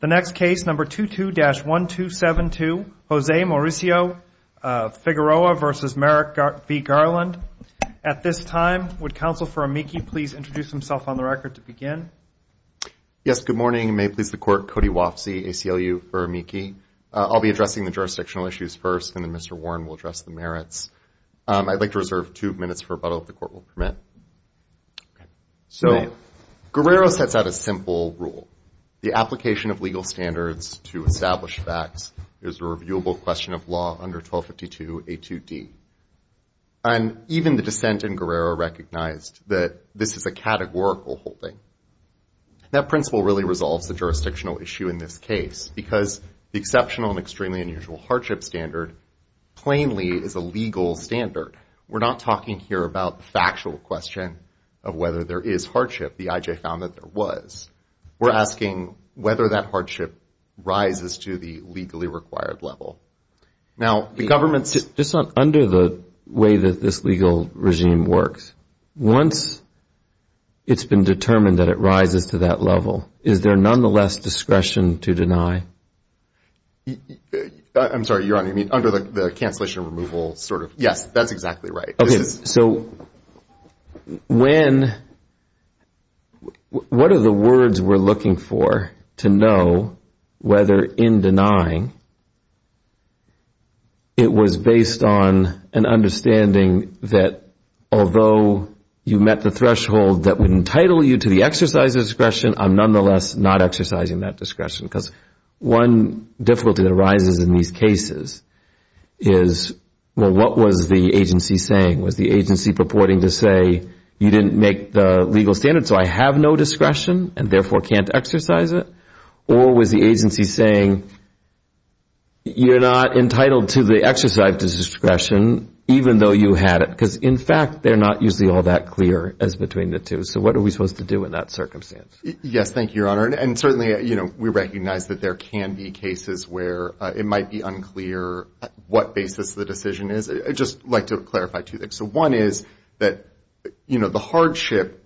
The next case, number 22-1272, Jose Mauricio Figueroa v. Merrick v. Garland. At this time, would Counsel for Amici please introduce himself on the record to begin? Yes, good morning. May it please the Court, Cody Wofsy, ACLU for Amici. I'll be addressing the jurisdictional issues first, and then Mr. Warren will address the merits. I'd like to reserve two minutes for rebuttal, if the Court will permit. So, Guerrero sets out a simple rule. The application of legal standards to establish facts is a reviewable question of law under 1252A2D. And even the dissent in Guerrero recognized that this is a categorical holding. That principle really resolves the jurisdictional issue in this case, because the exceptional and extremely unusual hardship standard plainly is a legal standard. We're not talking here about the factual question of whether there is hardship. The IJ found that there was. We're asking whether that hardship rises to the legally required level. Now, the government's... Just under the way that this legal regime works, once it's been determined that it rises to that level, is there nonetheless discretion to deny? I'm sorry, Your Honor. You mean under the cancellation removal sort of... Yes, that's exactly right. Okay. So, when... What are the words we're looking for to know whether in denying, it was based on an understanding that although you met the threshold that would entitle you to the exercise of discretion, I'm nonetheless not exercising that discretion? Because one difficulty that arises in these cases is, well, what was the agency saying? Was the agency purporting to say, you didn't make the legal standard, so I have no discretion and therefore can't exercise it? Or was the agency saying, you're not entitled to the exercise of discretion even though you had it? Because, in fact, they're not usually all that clear as between the two. So what are we supposed to do in that circumstance? Yes, thank you, Your Honor. And certainly, you know, we recognize that there can be cases where it might be unclear what basis the decision is. I'd just like to clarify two things. So one is that, you know, the hardship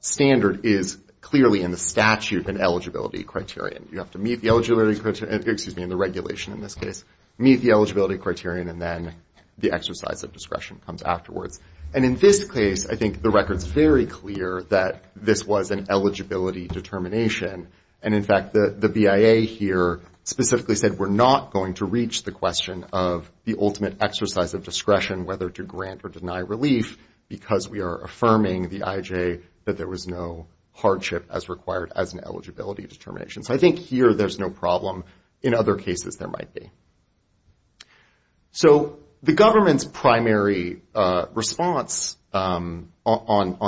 standard is clearly in the statute and eligibility criterion. You have to meet the eligibility criterion. Excuse me, in the regulation in this case. Meet the eligibility criterion and then the exercise of discretion comes afterwards. And in this case, I think the record's very clear that this was an eligibility determination. And, in fact, the BIA here specifically said we're not going to reach the question of the ultimate exercise of discretion, whether to grant or deny relief, because we are affirming, the IJ, that there was no hardship as required as an eligibility determination. So I think here there's no problem. In other cases, there might be. So the government's primary response on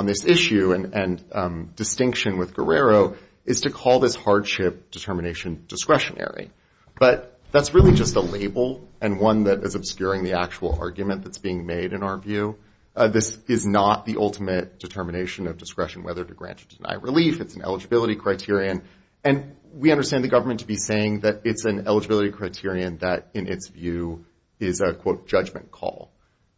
this issue and distinction with Guerrero is to call this hardship determination discretionary. But that's really just a label and one that is obscuring the actual argument that's being made in our view. This is not the ultimate determination of discretion, whether to grant or deny relief. It's an eligibility criterion. And we understand the government to be saying that it's an eligibility criterion that, in its view, is a, quote, judgment call,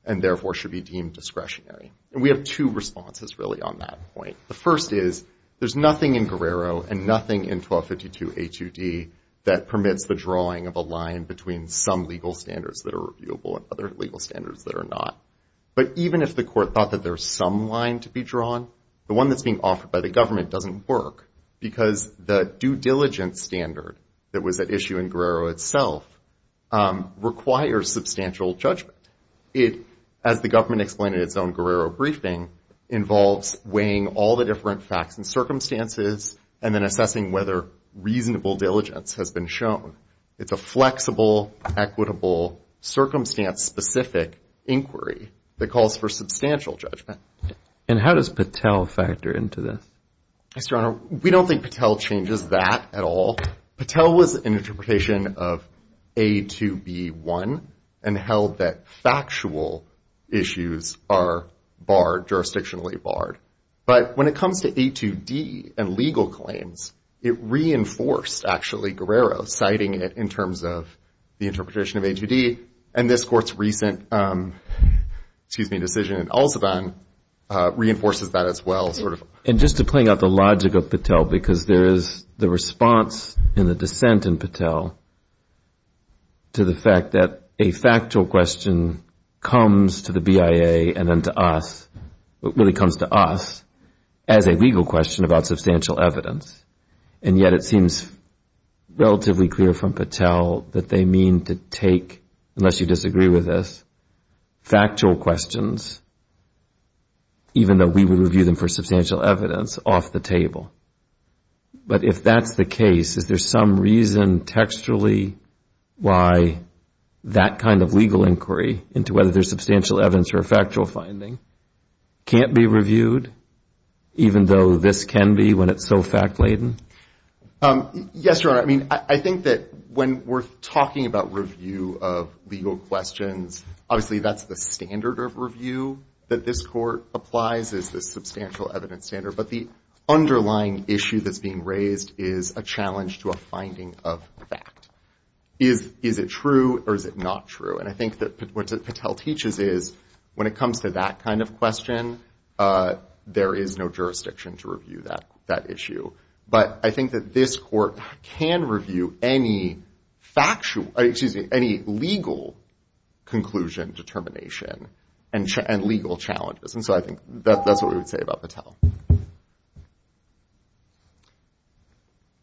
and therefore should be deemed discretionary. And we have two responses, really, on that point. The first is there's nothing in Guerrero and nothing in 1252A2D that permits the drawing of a line between some legal standards that are reviewable and other legal standards that are not. But even if the court thought that there's some line to be drawn, the one that's being offered by the government doesn't work because the due diligence standard that was at issue in Guerrero itself requires substantial judgment. It, as the government explained in its own Guerrero briefing, involves weighing all the different facts and circumstances and then assessing whether reasonable diligence has been shown. It's a flexible, equitable, circumstance-specific inquiry that calls for substantial judgment. And how does Patel factor into this? Mr. Honor, we don't think Patel changes that at all. Patel was an interpretation of A2B1 and held that factual issues are barred, jurisdictionally barred. But when it comes to A2D and legal claims, it reinforced, actually, Guerrero, citing it in terms of the interpretation of A2D. And this court's recent decision in Al-Saddan reinforces that as well. And just to play out the logic of Patel, because there is the response in the dissent in Patel to the fact that a factual question comes to the BIA and then to us, really comes to us, as a legal question about substantial evidence. And yet it seems relatively clear from Patel that they mean to take, unless you disagree with this, factual questions, even though we would review them for substantial evidence, off the table. But if that's the case, is there some reason textually why that kind of legal inquiry into whether there's substantial evidence or a factual finding can't be reviewed, even though this can be when it's so fact-laden? Yes, Your Honor. I mean, I think that when we're talking about review of legal questions, obviously that's the standard of review that this court applies, is the substantial evidence standard. But the underlying issue that's being raised is a challenge to a finding of fact. Is it true or is it not true? And I think that what Patel teaches is when it comes to that kind of question, there is no jurisdiction to review that issue. But I think that this court can review any legal conclusion determination and legal challenges. And so I think that's what we would say about Patel.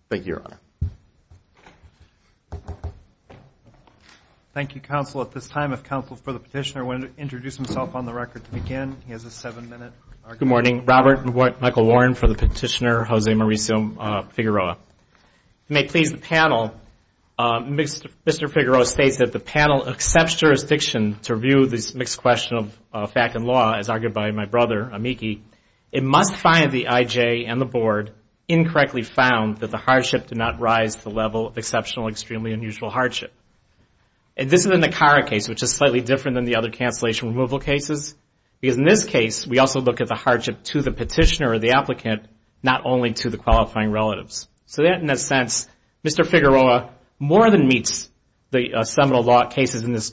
Thank you, Your Honor. Thank you, counsel. At this time, if counsel for the petitioner would introduce himself on the record to begin, he has a seven-minute argument. Good morning. Robert Michael Warren for the petitioner, Jose Mauricio Figueroa. If you may please the panel, Mr. Figueroa states that the panel accepts jurisdiction to review this mixed question of fact and law, as argued by my brother, Amiki. It must find the IJ and the board incorrectly found that the hardship did not rise to the level of exceptional extremely unusual hardship. And this is in the current case, which is slightly different than the other cancellation removal cases. Because in this case, we also look at the hardship to the petitioner or the applicant, not only to the qualifying relatives. So that, in a sense, Mr. Figueroa more than meets the seminal law cases in this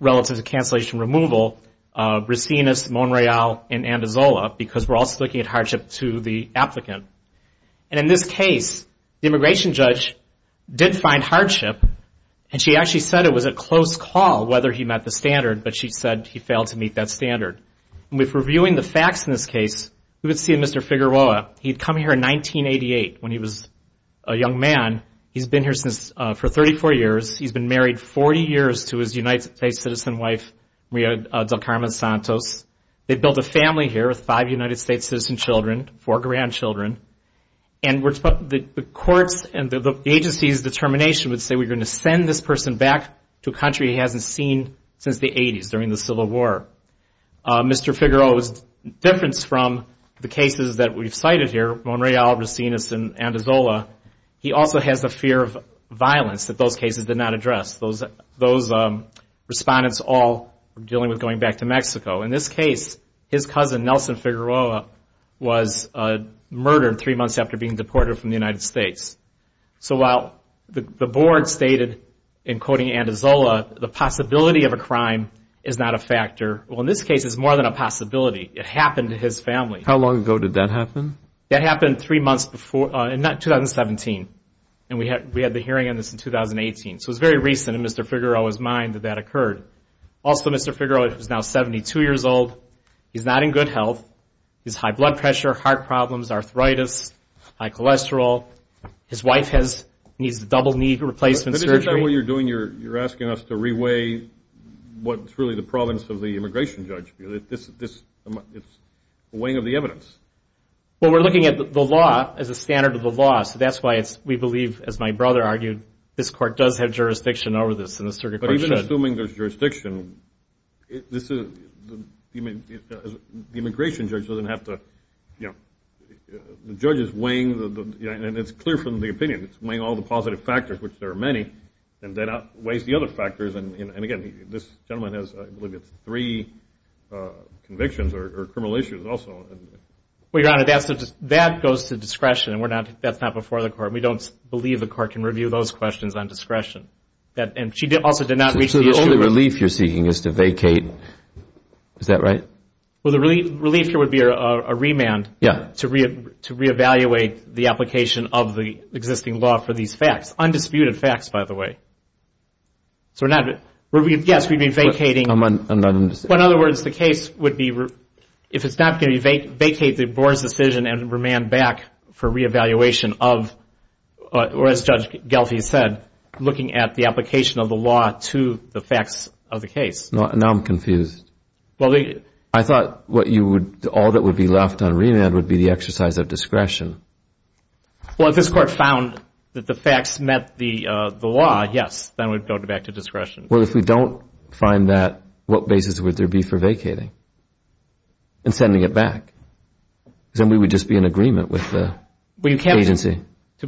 relative to cancellation removal, Brasinas, Monreal, and Andazola, because we're also looking at hardship to the applicant. And in this case, the immigration judge did find hardship, and she actually said it was a close call whether he met the standard, but she said he failed to meet that standard. And with reviewing the facts in this case, we would see Mr. Figueroa, he had come here in 1988 when he was a young man. He's been here for 34 years. He's been married 40 years to his United States citizen wife, Maria Del Carmen Santos. They built a family here with five United States citizen children, four grandchildren. And the court's and the agency's determination would say we're going to send this person back to a country he hasn't seen since the 80s, during the Civil War. Mr. Figueroa's difference from the cases that we've cited here, Monreal, Brasinas, and Andazola, he also has the fear of violence that those cases did not address. Those respondents all were dealing with going back to Mexico. In this case, his cousin, Nelson Figueroa, was murdered three months after being deported from the United States. So while the board stated in quoting Andazola, the possibility of a crime is not a factor. Well, in this case, it's more than a possibility. It happened to his family. How long ago did that happen? That happened three months before, in 2017. And we had the hearing on this in 2018. So it was very recent in Mr. Figueroa's mind that that occurred. Also, Mr. Figueroa is now 72 years old. He's not in good health. He has high blood pressure, heart problems, arthritis, high cholesterol. His wife needs a double knee replacement surgery. But isn't that what you're doing? You're asking us to re-weigh what's really the province of the immigration judge. It's weighing of the evidence. Well, we're looking at the law as a standard of the law. So that's why we believe, as my brother argued, this court does have jurisdiction over this. But even assuming there's jurisdiction, the immigration judge doesn't have to, you know. The judge is weighing, and it's clear from the opinion, it's weighing all the positive factors, which there are many, and then weighs the other factors. And, again, this gentleman has, I believe, three convictions or criminal issues also. Well, Your Honor, that goes to discretion. That's not before the court. We don't believe the court can review those questions on discretion. And she also did not reach the issue. So the only relief you're seeking is to vacate. Is that right? Well, the relief here would be a remand to re-evaluate the application of the existing law for these facts. Undisputed facts, by the way. Yes, we'd be vacating. In other words, the case would be, if it's not going to be vacated, the board's decision and remand back for re-evaluation of, or as Judge Gelfi said, looking at the application of the law to the facts of the case. Now I'm confused. I thought all that would be left on remand would be the exercise of discretion. Well, if this court found that the facts met the law, yes, then we'd go back to discretion. Well, if we don't find that, what basis would there be for vacating and sending it back? Because then we would just be in agreement with the agency.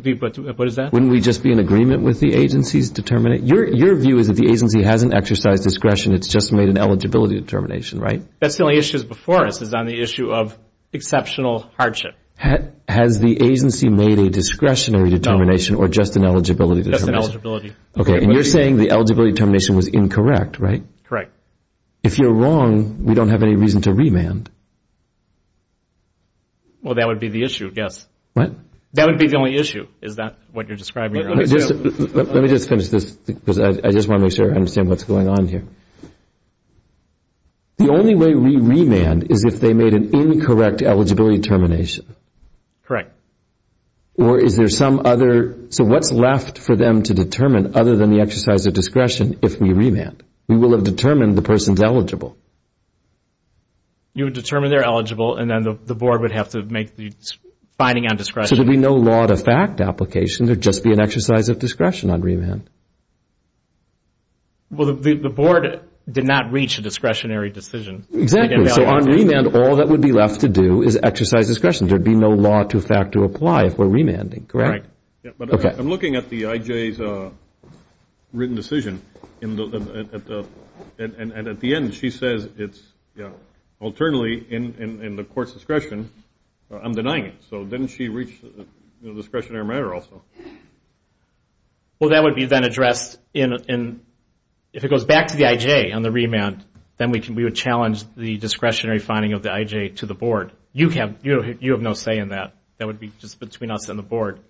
What is that? Wouldn't we just be in agreement with the agency's determination? Your view is if the agency hasn't exercised discretion, it's just made an eligibility determination, right? That's the only issue before us is on the issue of exceptional hardship. Has the agency made a discretionary determination or just an eligibility determination? Just an eligibility. Okay, and you're saying the eligibility determination was incorrect, right? Correct. If you're wrong, we don't have any reason to remand. Well, that would be the issue, yes. What? That would be the only issue, is that what you're describing? Let me just finish this because I just want to make sure I understand what's going on here. The only way we remand is if they made an incorrect eligibility determination. Correct. Or is there some other? So what's left for them to determine other than the exercise of discretion if we remand? We will have determined the person's eligible. You would determine they're eligible and then the board would have to make the finding on discretion. So there'd be no law to fact application. There'd just be an exercise of discretion on remand. Well, the board did not reach a discretionary decision. Exactly. So on remand, all that would be left to do is exercise discretion. There'd be no law to fact to apply if we're remanding, correct? Right. I'm looking at the IJ's written decision, and at the end she says it's alternately in the court's discretion. I'm denying it. So didn't she reach a discretionary matter also? Well, that would be then addressed in, if it goes back to the IJ on the remand, then we would challenge the discretionary finding of the IJ to the board. You have no say in that. That would be just between us and the board.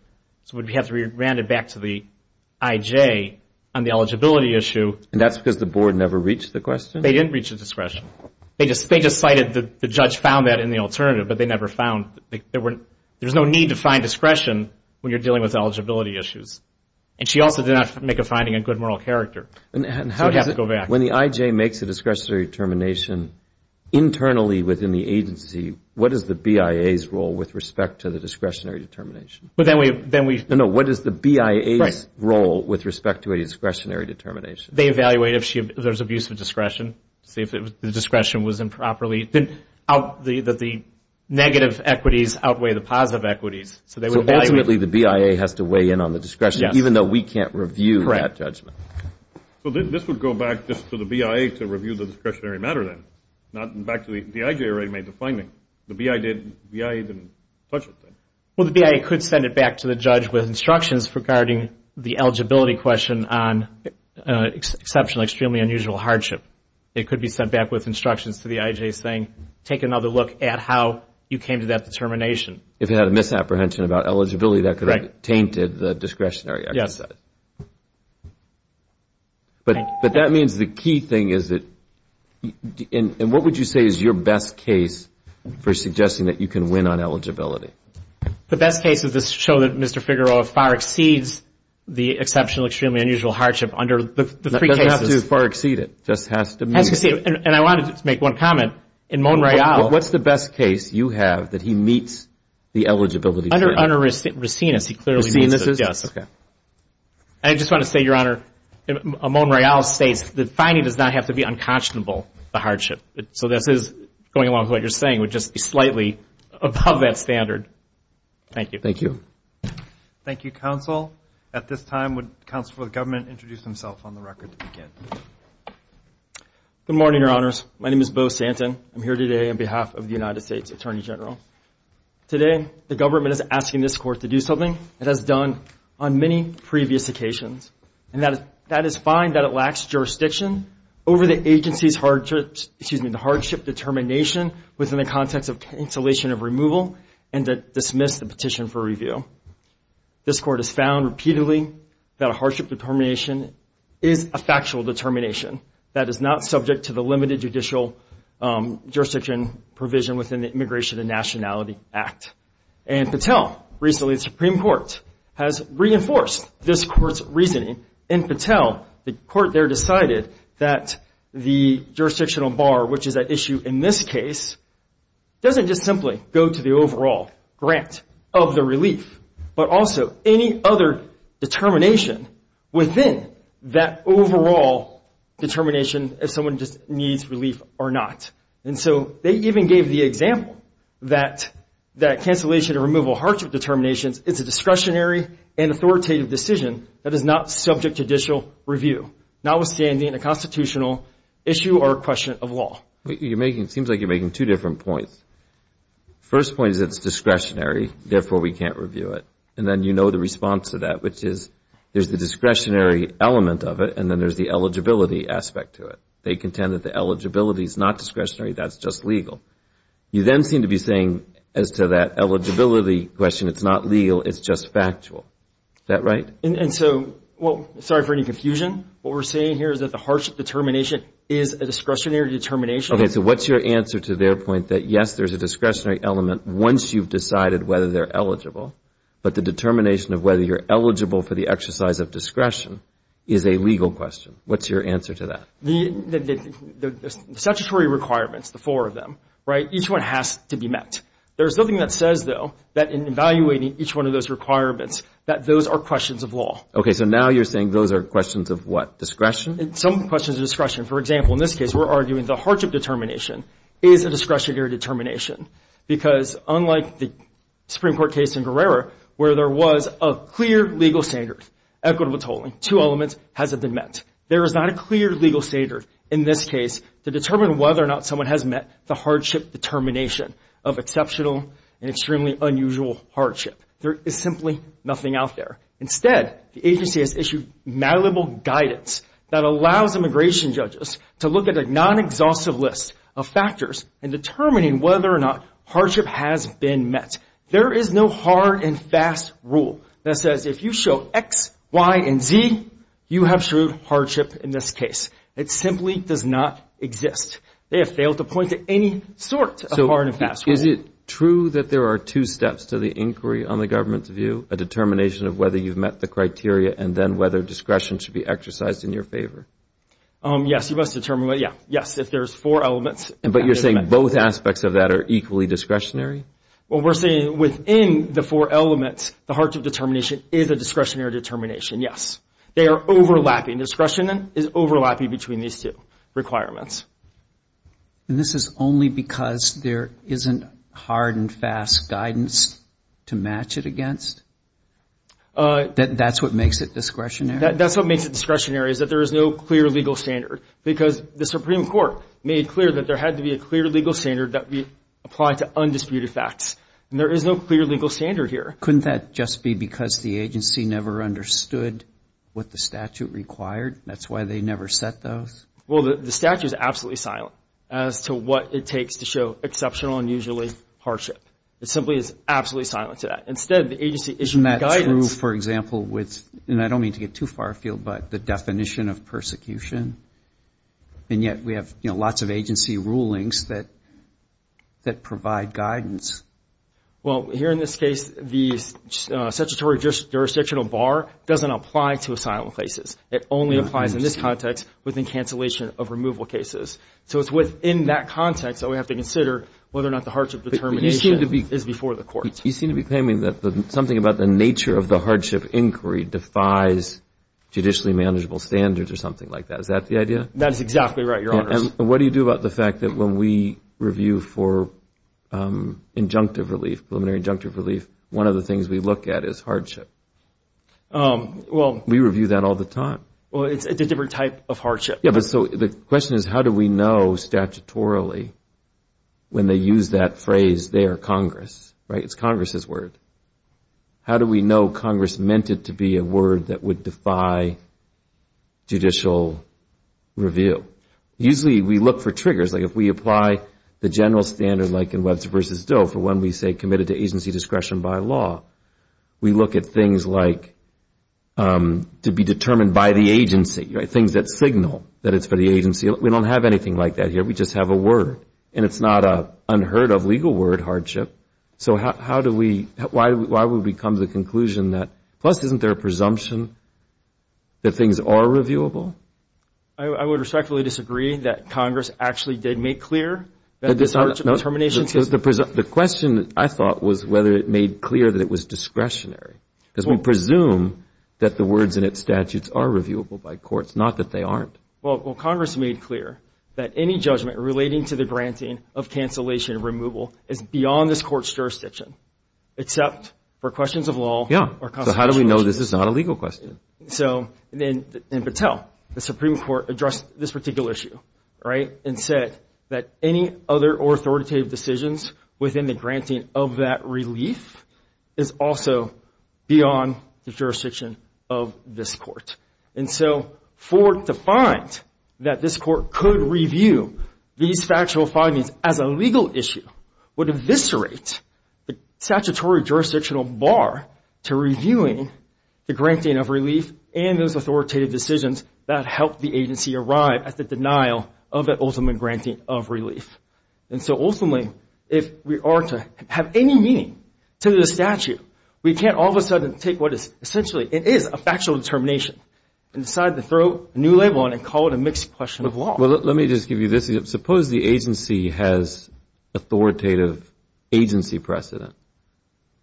So we'd have to remand it back to the IJ on the eligibility issue. And that's because the board never reached the question? They didn't reach a discretion. They just cited the judge found that in the alternative, but they never found. There's no need to find discretion when you're dealing with eligibility issues. And she also did not make a finding in good moral character. So we'd have to go back. When the IJ makes a discretionary determination internally within the agency, what is the BIA's role with respect to the discretionary determination? No, what is the BIA's role with respect to a discretionary determination? They evaluate if there's abuse of discretion, see if the discretion was improperly. The negative equities outweigh the positive equities. So ultimately the BIA has to weigh in on the discretion, even though we can't review that judgment. So this would go back just to the BIA to review the discretionary matter then, not back to the IJ already made the finding. The BIA didn't touch it then. Well, the BIA could send it back to the judge with instructions regarding the eligibility question on exceptional, extremely unusual hardship. It could be sent back with instructions to the IJ saying, take another look at how you came to that determination. If it had a misapprehension about eligibility, that could have tainted the discretionary exercise. But that means the key thing is that, and what would you say is your best case for suggesting that you can win on eligibility? The best case is to show that Mr. Figueroa far exceeds the exceptional, extremely unusual hardship under the three cases. Not to far exceed it, just has to meet it. And I wanted to make one comment. In Mon-Royal. What's the best case you have that he meets the eligibility standard? Under Racinus, he clearly meets it, yes. I just want to say, Your Honor, Mon-Royal states the finding does not have to be unconscionable, the hardship. So this is, going along with what you're saying, would just be slightly above that standard. Thank you. Thank you. Thank you, counsel. At this time, would counsel for the government introduce himself on the record to begin? Good morning, Your Honors. My name is Beau Santin. I'm here today on behalf of the United States Attorney General. Today, the government is asking this court to do something it has done on many previous occasions, and that is find that it lacks jurisdiction over the agency's hardship determination within the context of cancellation of removal and to dismiss the petition for review. This court has found repeatedly that a hardship determination is a factual determination that is not subject to the limited judicial jurisdiction provision within the Immigration and Nationality Act. And Patel, recently the Supreme Court, has reinforced this court's reasoning. In Patel, the court there decided that the jurisdictional bar, which is at issue in this case, doesn't just simply go to the overall grant of the relief, but also any other determination within that overall determination if someone just needs relief or not. And so they even gave the example that cancellation or removal of hardship determinations is a discretionary and authoritative decision that is not subject to judicial review, notwithstanding a constitutional issue or question of law. You're making, it seems like you're making two different points. First point is it's discretionary, therefore we can't review it. And then you know the response to that, which is there's the discretionary element of it and then there's the eligibility aspect to it. They contend that the eligibility is not discretionary, that's just legal. You then seem to be saying as to that eligibility question, it's not legal, it's just factual. Is that right? And so, well, sorry for any confusion. What we're saying here is that the hardship determination is a discretionary determination. Okay, so what's your answer to their point that, yes, there's a discretionary element once you've decided whether they're eligible, but the determination of whether you're eligible for the exercise of discretion is a legal question. What's your answer to that? The statutory requirements, the four of them, right, each one has to be met. There's nothing that says, though, that in evaluating each one of those requirements, that those are questions of law. Okay, so now you're saying those are questions of what, discretion? Some questions of discretion. For example, in this case, we're arguing the hardship determination is a discretionary determination because unlike the Supreme Court case in Guerrero where there was a clear legal standard, equitable tolling, two elements hasn't been met. There is not a clear legal standard in this case to determine whether or not someone has met the hardship determination of exceptional and extremely unusual hardship. There is simply nothing out there. Instead, the agency has issued malleable guidance that allows immigration judges to look at a non-exhaustive list of factors in determining whether or not hardship has been met. There is no hard and fast rule that says if you show X, Y, and Z, you have shrewd hardship in this case. It simply does not exist. They have failed to point to any sort of hard and fast rule. So is it true that there are two steps to the inquiry on the government's view, a determination of whether you've met the criteria and then whether discretion should be exercised in your favor? Yes, you must determine, yes, if there's four elements. But you're saying both aspects of that are equally discretionary? Well, we're saying within the four elements, the hardship determination is a discretionary determination, yes. They are overlapping. Discretion is overlapping between these two requirements. And this is only because there isn't hard and fast guidance to match it against? That that's what makes it discretionary? That's what makes it discretionary is that there is no clear legal standard because the Supreme Court made clear that there had to be a clear legal standard that we apply to undisputed facts. And there is no clear legal standard here. Couldn't that just be because the agency never understood what the statute required? That's why they never set those? Well, the statute is absolutely silent as to what it takes to show exceptional and usually hardship. It simply is absolutely silent to that. Instead, the agency issued guidance. Isn't that true, for example, with, and I don't mean to get too far afield, but the definition of persecution? And yet we have, you know, lots of agency rulings that provide guidance. Well, here in this case, the statutory jurisdictional bar doesn't apply to asylum cases. It only applies in this context within cancellation of removal cases. So it's within that context that we have to consider whether or not the hardship determination is before the courts. You seem to be claiming that something about the nature of the hardship inquiry defies judicially manageable standards or something like that. Is that the idea? That is exactly right, Your Honors. And what do you do about the fact that when we review for injunctive relief, preliminary injunctive relief, one of the things we look at is hardship? Well, we review that all the time. Well, it's a different type of hardship. Yeah, but so the question is how do we know statutorily when they use that phrase there, Congress, right? It's Congress's word. How do we know Congress meant it to be a word that would defy judicial review? Usually we look for triggers. Like if we apply the general standard like in Webster v. Doe for when we say committed to agency discretion by law, we look at things like to be determined by the agency, things that signal that it's for the agency. We don't have anything like that here. We just have a word, and it's not an unheard-of legal word, hardship. So how do we – why would we come to the conclusion that – plus isn't there a presumption that things are reviewable? I would respectfully disagree that Congress actually did make clear that this hardship determination – The question, I thought, was whether it made clear that it was discretionary because we presume that the words in its statutes are reviewable by courts, not that they aren't. Well, Congress made clear that any judgment relating to the granting of cancellation of removal is beyond this court's jurisdiction except for questions of law or constitutional issues. Yeah, so how do we know this is not a legal question? So then in Patel, the Supreme Court addressed this particular issue, right, and said that any other authoritative decisions within the granting of that relief is also beyond the jurisdiction of this court. And so for it to find that this court could review these factual findings as a legal issue would eviscerate the statutory jurisdictional bar to reviewing the granting of relief and those authoritative decisions that helped the agency arrive at the denial of the ultimate granting of relief. And so ultimately, if we are to have any meaning to the statute, we can't all of a sudden take what is essentially – it is a factual determination and decide to throw a new label on it and call it a mixed question of law. Well, let me just give you this. Suppose the agency has authoritative agency precedent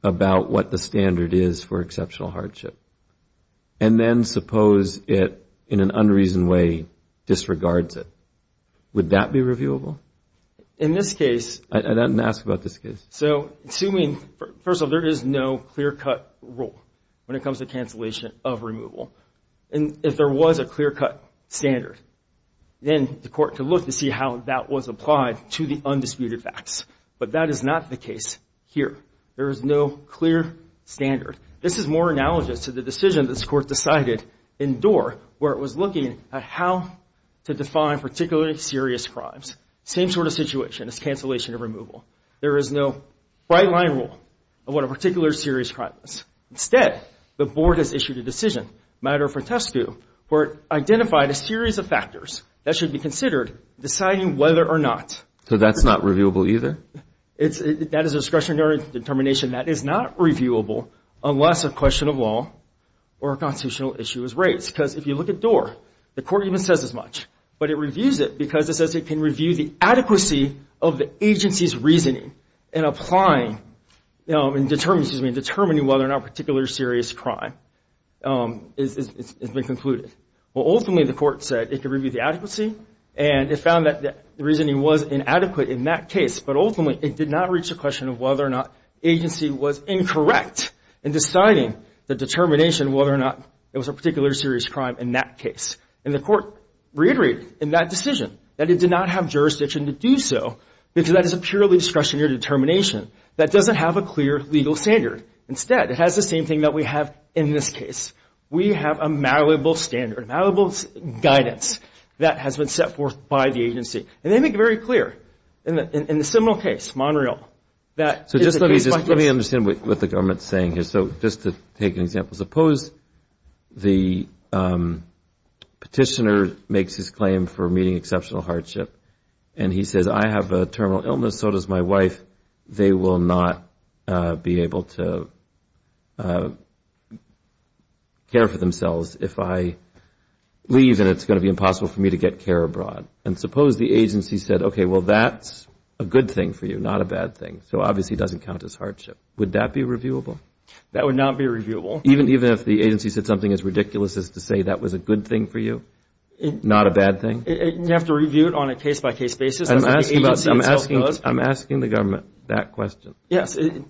about what the standard is for exceptional hardship. And then suppose it, in an unreasoned way, disregards it. Would that be reviewable? In this case – I didn't ask about this case. So assuming – first of all, there is no clear-cut rule when it comes to cancellation of removal. And if there was a clear-cut standard, then the court could look to see how that was applied to the undisputed facts. But that is not the case here. There is no clear standard. This is more analogous to the decision this court decided in Doar, where it was looking at how to define particularly serious crimes. Same sort of situation as cancellation of removal. There is no bright-line rule of what a particular serious crime is. Instead, the board has issued a decision, matter of protesto, where it identified a series of factors that should be considered deciding whether or not – So that's not reviewable either? That is discretionary determination. That is not reviewable unless a question of law or a constitutional issue is raised. Because if you look at Doar, the court even says as much. But it reviews it because it says it can review the adequacy of the agency's reasoning in applying – in determining whether or not a particular serious crime has been concluded. Well, ultimately, the court said it could review the adequacy, and it found that the reasoning was inadequate in that case. But ultimately, it did not reach the question of whether or not the agency was incorrect in deciding the determination of whether or not it was a particular serious crime in that case. And the court reiterated in that decision that it did not have jurisdiction to do so because that is a purely discretionary determination. That doesn't have a clear legal standard. Instead, it has the same thing that we have in this case. We have a malleable standard, malleable guidance that has been set forth by the agency. And they make it very clear in the similar case, Monreal, that – So just let me understand what the government is saying here. So just to take an example, suppose the petitioner makes his claim for meeting exceptional hardship, and he says, I have a terminal illness, so does my wife. They will not be able to care for themselves if I leave, and it's going to be impossible for me to get care abroad. And suppose the agency said, okay, well, that's a good thing for you, not a bad thing. So obviously, it doesn't count as hardship. Would that be reviewable? That would not be reviewable. Even if the agency said something as ridiculous as to say that was a good thing for you, not a bad thing? You have to review it on a case-by-case basis. I'm asking the government that question. Yes. Would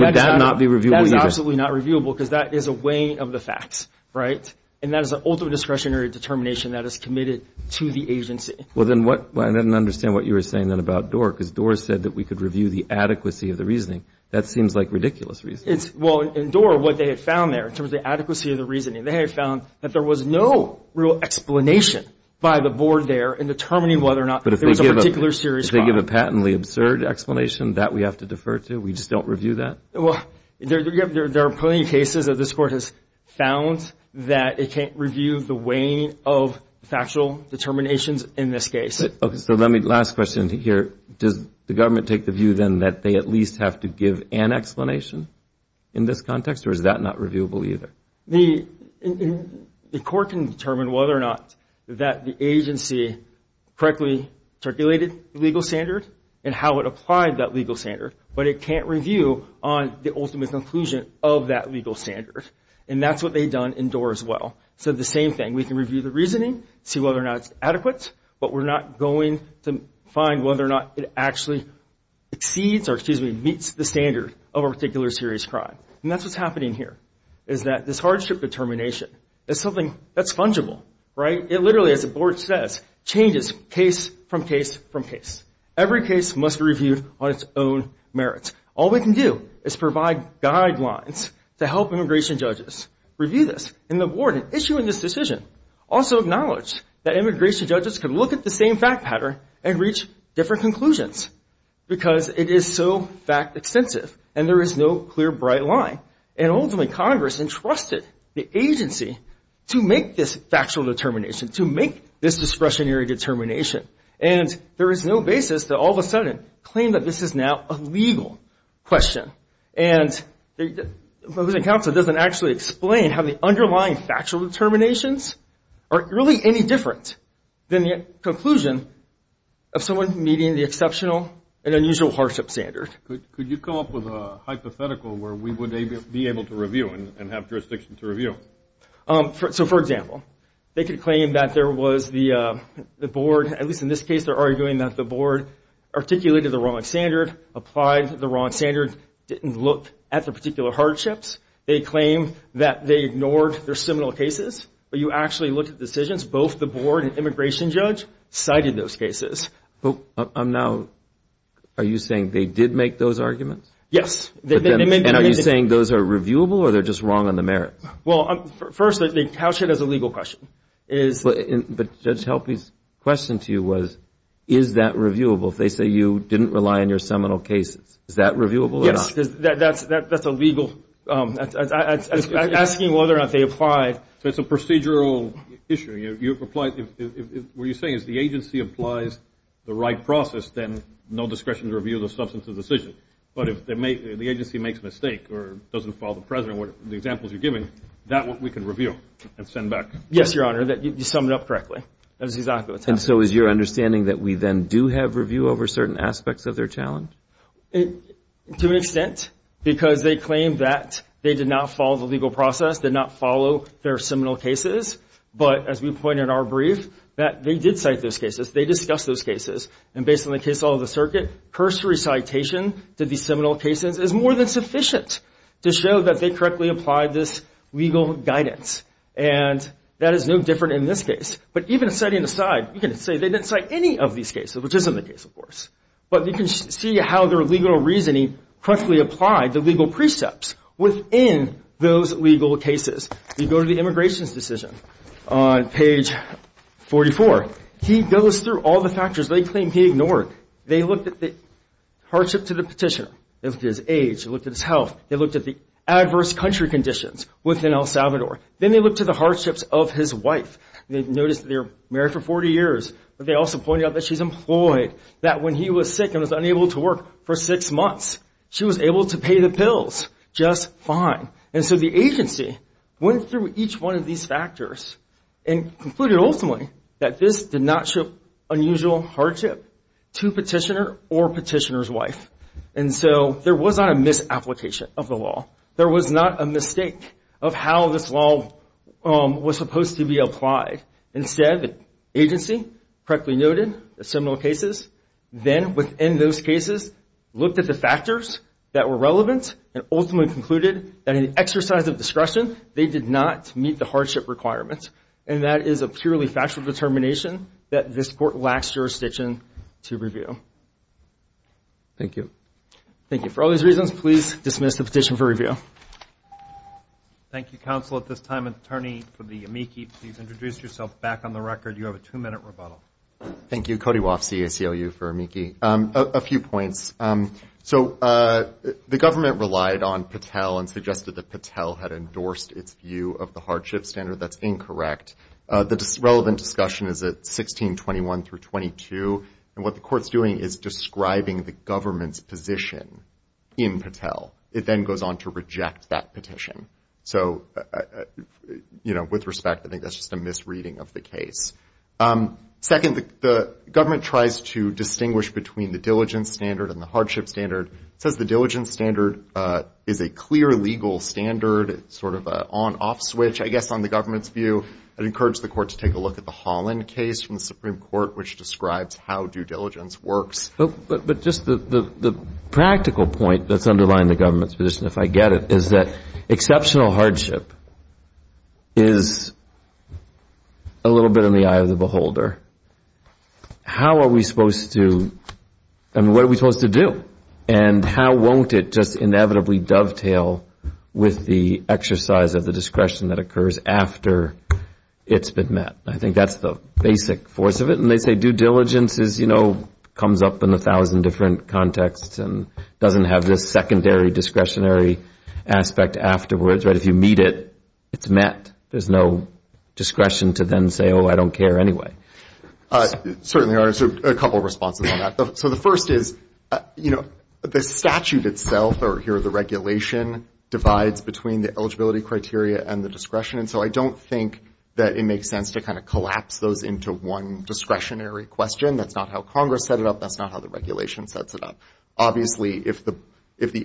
that not be reviewable either? That is absolutely not reviewable because that is a weighing of the facts, right? And that is the ultimate discretionary determination that is committed to the agency. Well, then what – I didn't understand what you were saying then about Doar because Doar said that we could review the adequacy of the reasoning. That seems like ridiculous reasoning. Well, in Doar, what they had found there in terms of the adequacy of the reasoning, they have found that there was no real explanation by the board there in determining whether or not there was a particular serious problem. But if they give a patently absurd explanation, that we have to defer to? We just don't review that? Well, there are plenty of cases that this Court has found that it can't review the weighing of factual determinations in this case. Okay. So let me – last question here. Does the government take the view then that they at least have to give an explanation in this context? Or is that not reviewable either? The Court can determine whether or not that the agency correctly circulated the legal standard and how it applied that legal standard, but it can't review on the ultimate conclusion of that legal standard. And that's what they've done in Doar as well. So the same thing. We can review the reasoning, see whether or not it's adequate, but we're not going to find whether or not it actually exceeds or, excuse me, meets the standard of a particular serious crime. And that's what's happening here is that this hardship determination is something that's fungible. Right? It literally, as the Board says, changes case from case from case. Every case must be reviewed on its own merits. All we can do is provide guidelines to help immigration judges review this. And the Board, in issuing this decision, also acknowledged that immigration judges could look at the same fact pattern and reach different conclusions because it is so fact-extensive and there is no clear, bright line. And ultimately, Congress entrusted the agency to make this factual determination, to make this discretionary determination. And there is no basis to all of a sudden claim that this is now a legal question. And the opposing counsel doesn't actually explain how the underlying factual determinations are really any different than the conclusion of someone meeting the exceptional and unusual hardship standard. Could you come up with a hypothetical where we would be able to review and have jurisdiction to review? So, for example, they could claim that there was the Board, at least in this case, they're arguing that the Board articulated the wrong standard, applied the wrong standard, didn't look at the particular hardships. They claim that they ignored their seminal cases. But you actually looked at decisions. Both the Board and immigration judge cited those cases. Now, are you saying they did make those arguments? Yes. And are you saying those are reviewable or they're just wrong on the merits? Well, first, they couch it as a legal question. But Judge Helpe's question to you was, is that reviewable? If they say you didn't rely on your seminal cases, is that reviewable or not? Yes, that's a legal question, asking whether or not they applied. It's a procedural issue. What you're saying is the agency applies the right process, then no discretion to review the substance of the decision. But if the agency makes a mistake or doesn't follow the precedent, the examples you're giving, that we can review and send back. Yes, Your Honor, you summed it up correctly. That is exactly what's happening. And so is your understanding that we then do have review over certain aspects of their challenge? To an extent, because they claim that they did not follow the legal process, did not follow their seminal cases. But as we point in our brief, that they did cite those cases. They discussed those cases. And based on the case law of the circuit, cursory citation to the seminal cases is more than sufficient to show that they correctly applied this legal guidance. And that is no different in this case. But even setting aside, you can say they didn't cite any of these cases, which isn't the case, of course. But you can see how their legal reasoning correctly applied the legal precepts within those legal cases. You go to the immigration's decision on page 44. He goes through all the factors they claim he ignored. They looked at the hardship to the petitioner. They looked at his age. They looked at his health. They looked at the adverse country conditions within El Salvador. Then they looked at the hardships of his wife. They noticed that they were married for 40 years. But they also pointed out that she's employed. That when he was sick and was unable to work for six months, she was able to pay the bills just fine. And so the agency went through each one of these factors and concluded, ultimately, that this did not show unusual hardship to petitioner or petitioner's wife. And so there was not a misapplication of the law. There was not a mistake of how this law was supposed to be applied. Instead, the agency correctly noted the seminal cases. Then, within those cases, looked at the factors that were relevant and ultimately concluded that in an exercise of discretion, they did not meet the hardship requirements. And that is a purely factual determination that this court lacks jurisdiction to review. Thank you. Thank you. For all these reasons, please dismiss the petition for review. Thank you, counsel. At this time, attorney for the amici, please introduce yourself back on the record. You have a two-minute rebuttal. Thank you. Cody Woff, CACLU for amici. A few points. So the government relied on Patel and suggested that Patel had endorsed its view of the hardship standard. That's incorrect. The relevant discussion is at 1621 through 22. And what the court's doing is describing the government's position in Patel. It then goes on to reject that petition. So, you know, with respect, I think that's just a misreading of the case. Second, the government tries to distinguish between the diligence standard and the hardship standard. It says the diligence standard is a clear legal standard, sort of an on-off switch, I guess, on the government's view. I'd encourage the court to take a look at the Holland case from the Supreme Court, which describes how due diligence works. But just the practical point that's underlying the government's position, if I get it, is that exceptional hardship is a little bit in the eye of the beholder. How are we supposed to, I mean, what are we supposed to do? And how won't it just inevitably dovetail with the exercise of the discretion that occurs after it's been met? I think that's the basic force of it. And they say due diligence is, you know, comes up in a thousand different contexts and doesn't have this secondary discretionary aspect afterwards. But if you meet it, it's met. There's no discretion to then say, oh, I don't care anyway. Certainly there are a couple of responses on that. So the first is, you know, the statute itself, or here the regulation, divides between the eligibility criteria and the discretion. And so I don't think that it makes sense to kind of collapse those into one discretionary question. That's not how Congress set it up. That's not how the regulation sets it up. Obviously, if the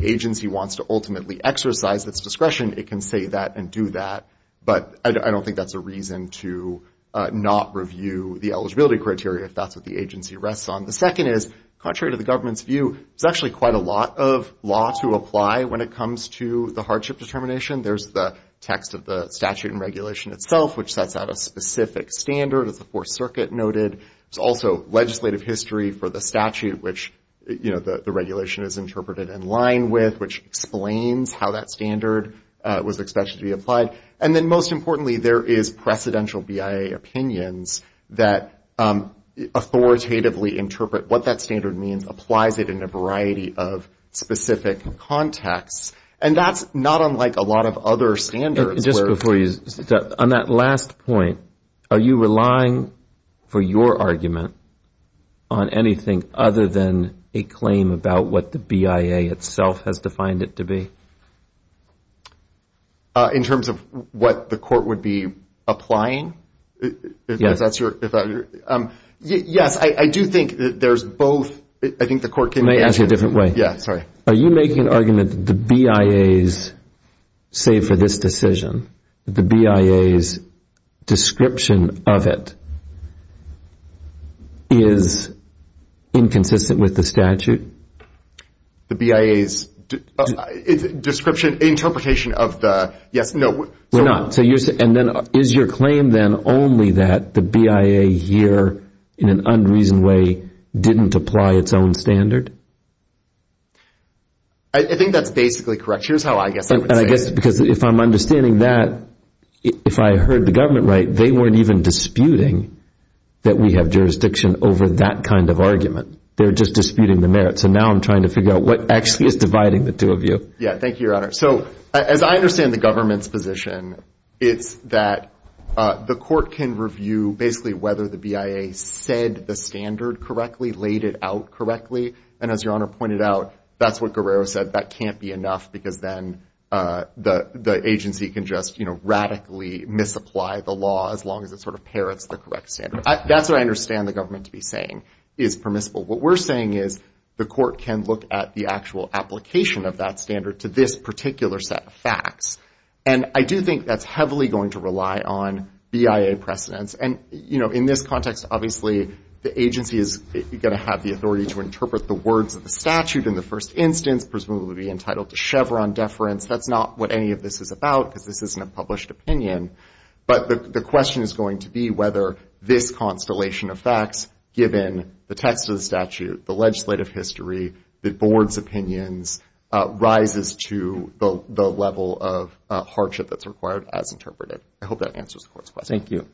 agency wants to ultimately exercise its discretion, it can say that and do that. But I don't think that's a reason to not review the eligibility criteria if that's what the agency rests on. The second is, contrary to the government's view, there's actually quite a lot of law to apply when it comes to the hardship determination. There's the text of the statute and regulation itself, which sets out a specific standard, as the Fourth Circuit noted. There's also legislative history for the statute, which, you know, the regulation is interpreted in line with, which explains how that standard was expected to be applied. And then most importantly, there is precedential BIA opinions that authoritatively interpret what that standard means, applies it in a variety of specific contexts. And that's not unlike a lot of other standards. Just before you, on that last point, are you relying, for your argument, on anything other than a claim about what the BIA itself has defined it to be? In terms of what the court would be applying? Yes. Yes, I do think that there's both. I think the court can answer. Let me ask you a different way. Yeah, sorry. Are you making an argument that the BIA's, say for this decision, the BIA's description of it is inconsistent with the statute? The BIA's description, interpretation of the, yes, no. We're not. And then is your claim then only that the BIA here, in an unreasoned way, didn't apply its own standard? I think that's basically correct. Here's how I guess I would say it. And I guess because if I'm understanding that, if I heard the government right, they weren't even disputing that we have jurisdiction over that kind of argument. They were just disputing the merits. And now I'm trying to figure out what actually is dividing the two of you. Yeah, thank you, Your Honor. So as I understand the government's position, it's that the court can review basically whether the BIA said the standard correctly, laid it out correctly. And as Your Honor pointed out, that's what Guerrero said, that can't be enough because then the agency can just, you know, radically misapply the law as long as it sort of parrots the correct standard. That's what I understand the government to be saying is permissible. What we're saying is the court can look at the actual application of that standard to this particular set of facts. And I do think that's heavily going to rely on BIA precedence. And, you know, in this context, obviously, the agency is going to have the authority to interpret the words of the statute in the first instance, presumably be entitled to Chevron deference. That's not what any of this is about because this isn't a published opinion. But the question is going to be whether this constellation of facts, given the text of the statute, the legislative history, the board's opinions, rises to the level of hardship that's required as interpreted. I hope that answers the court's question. Thank you.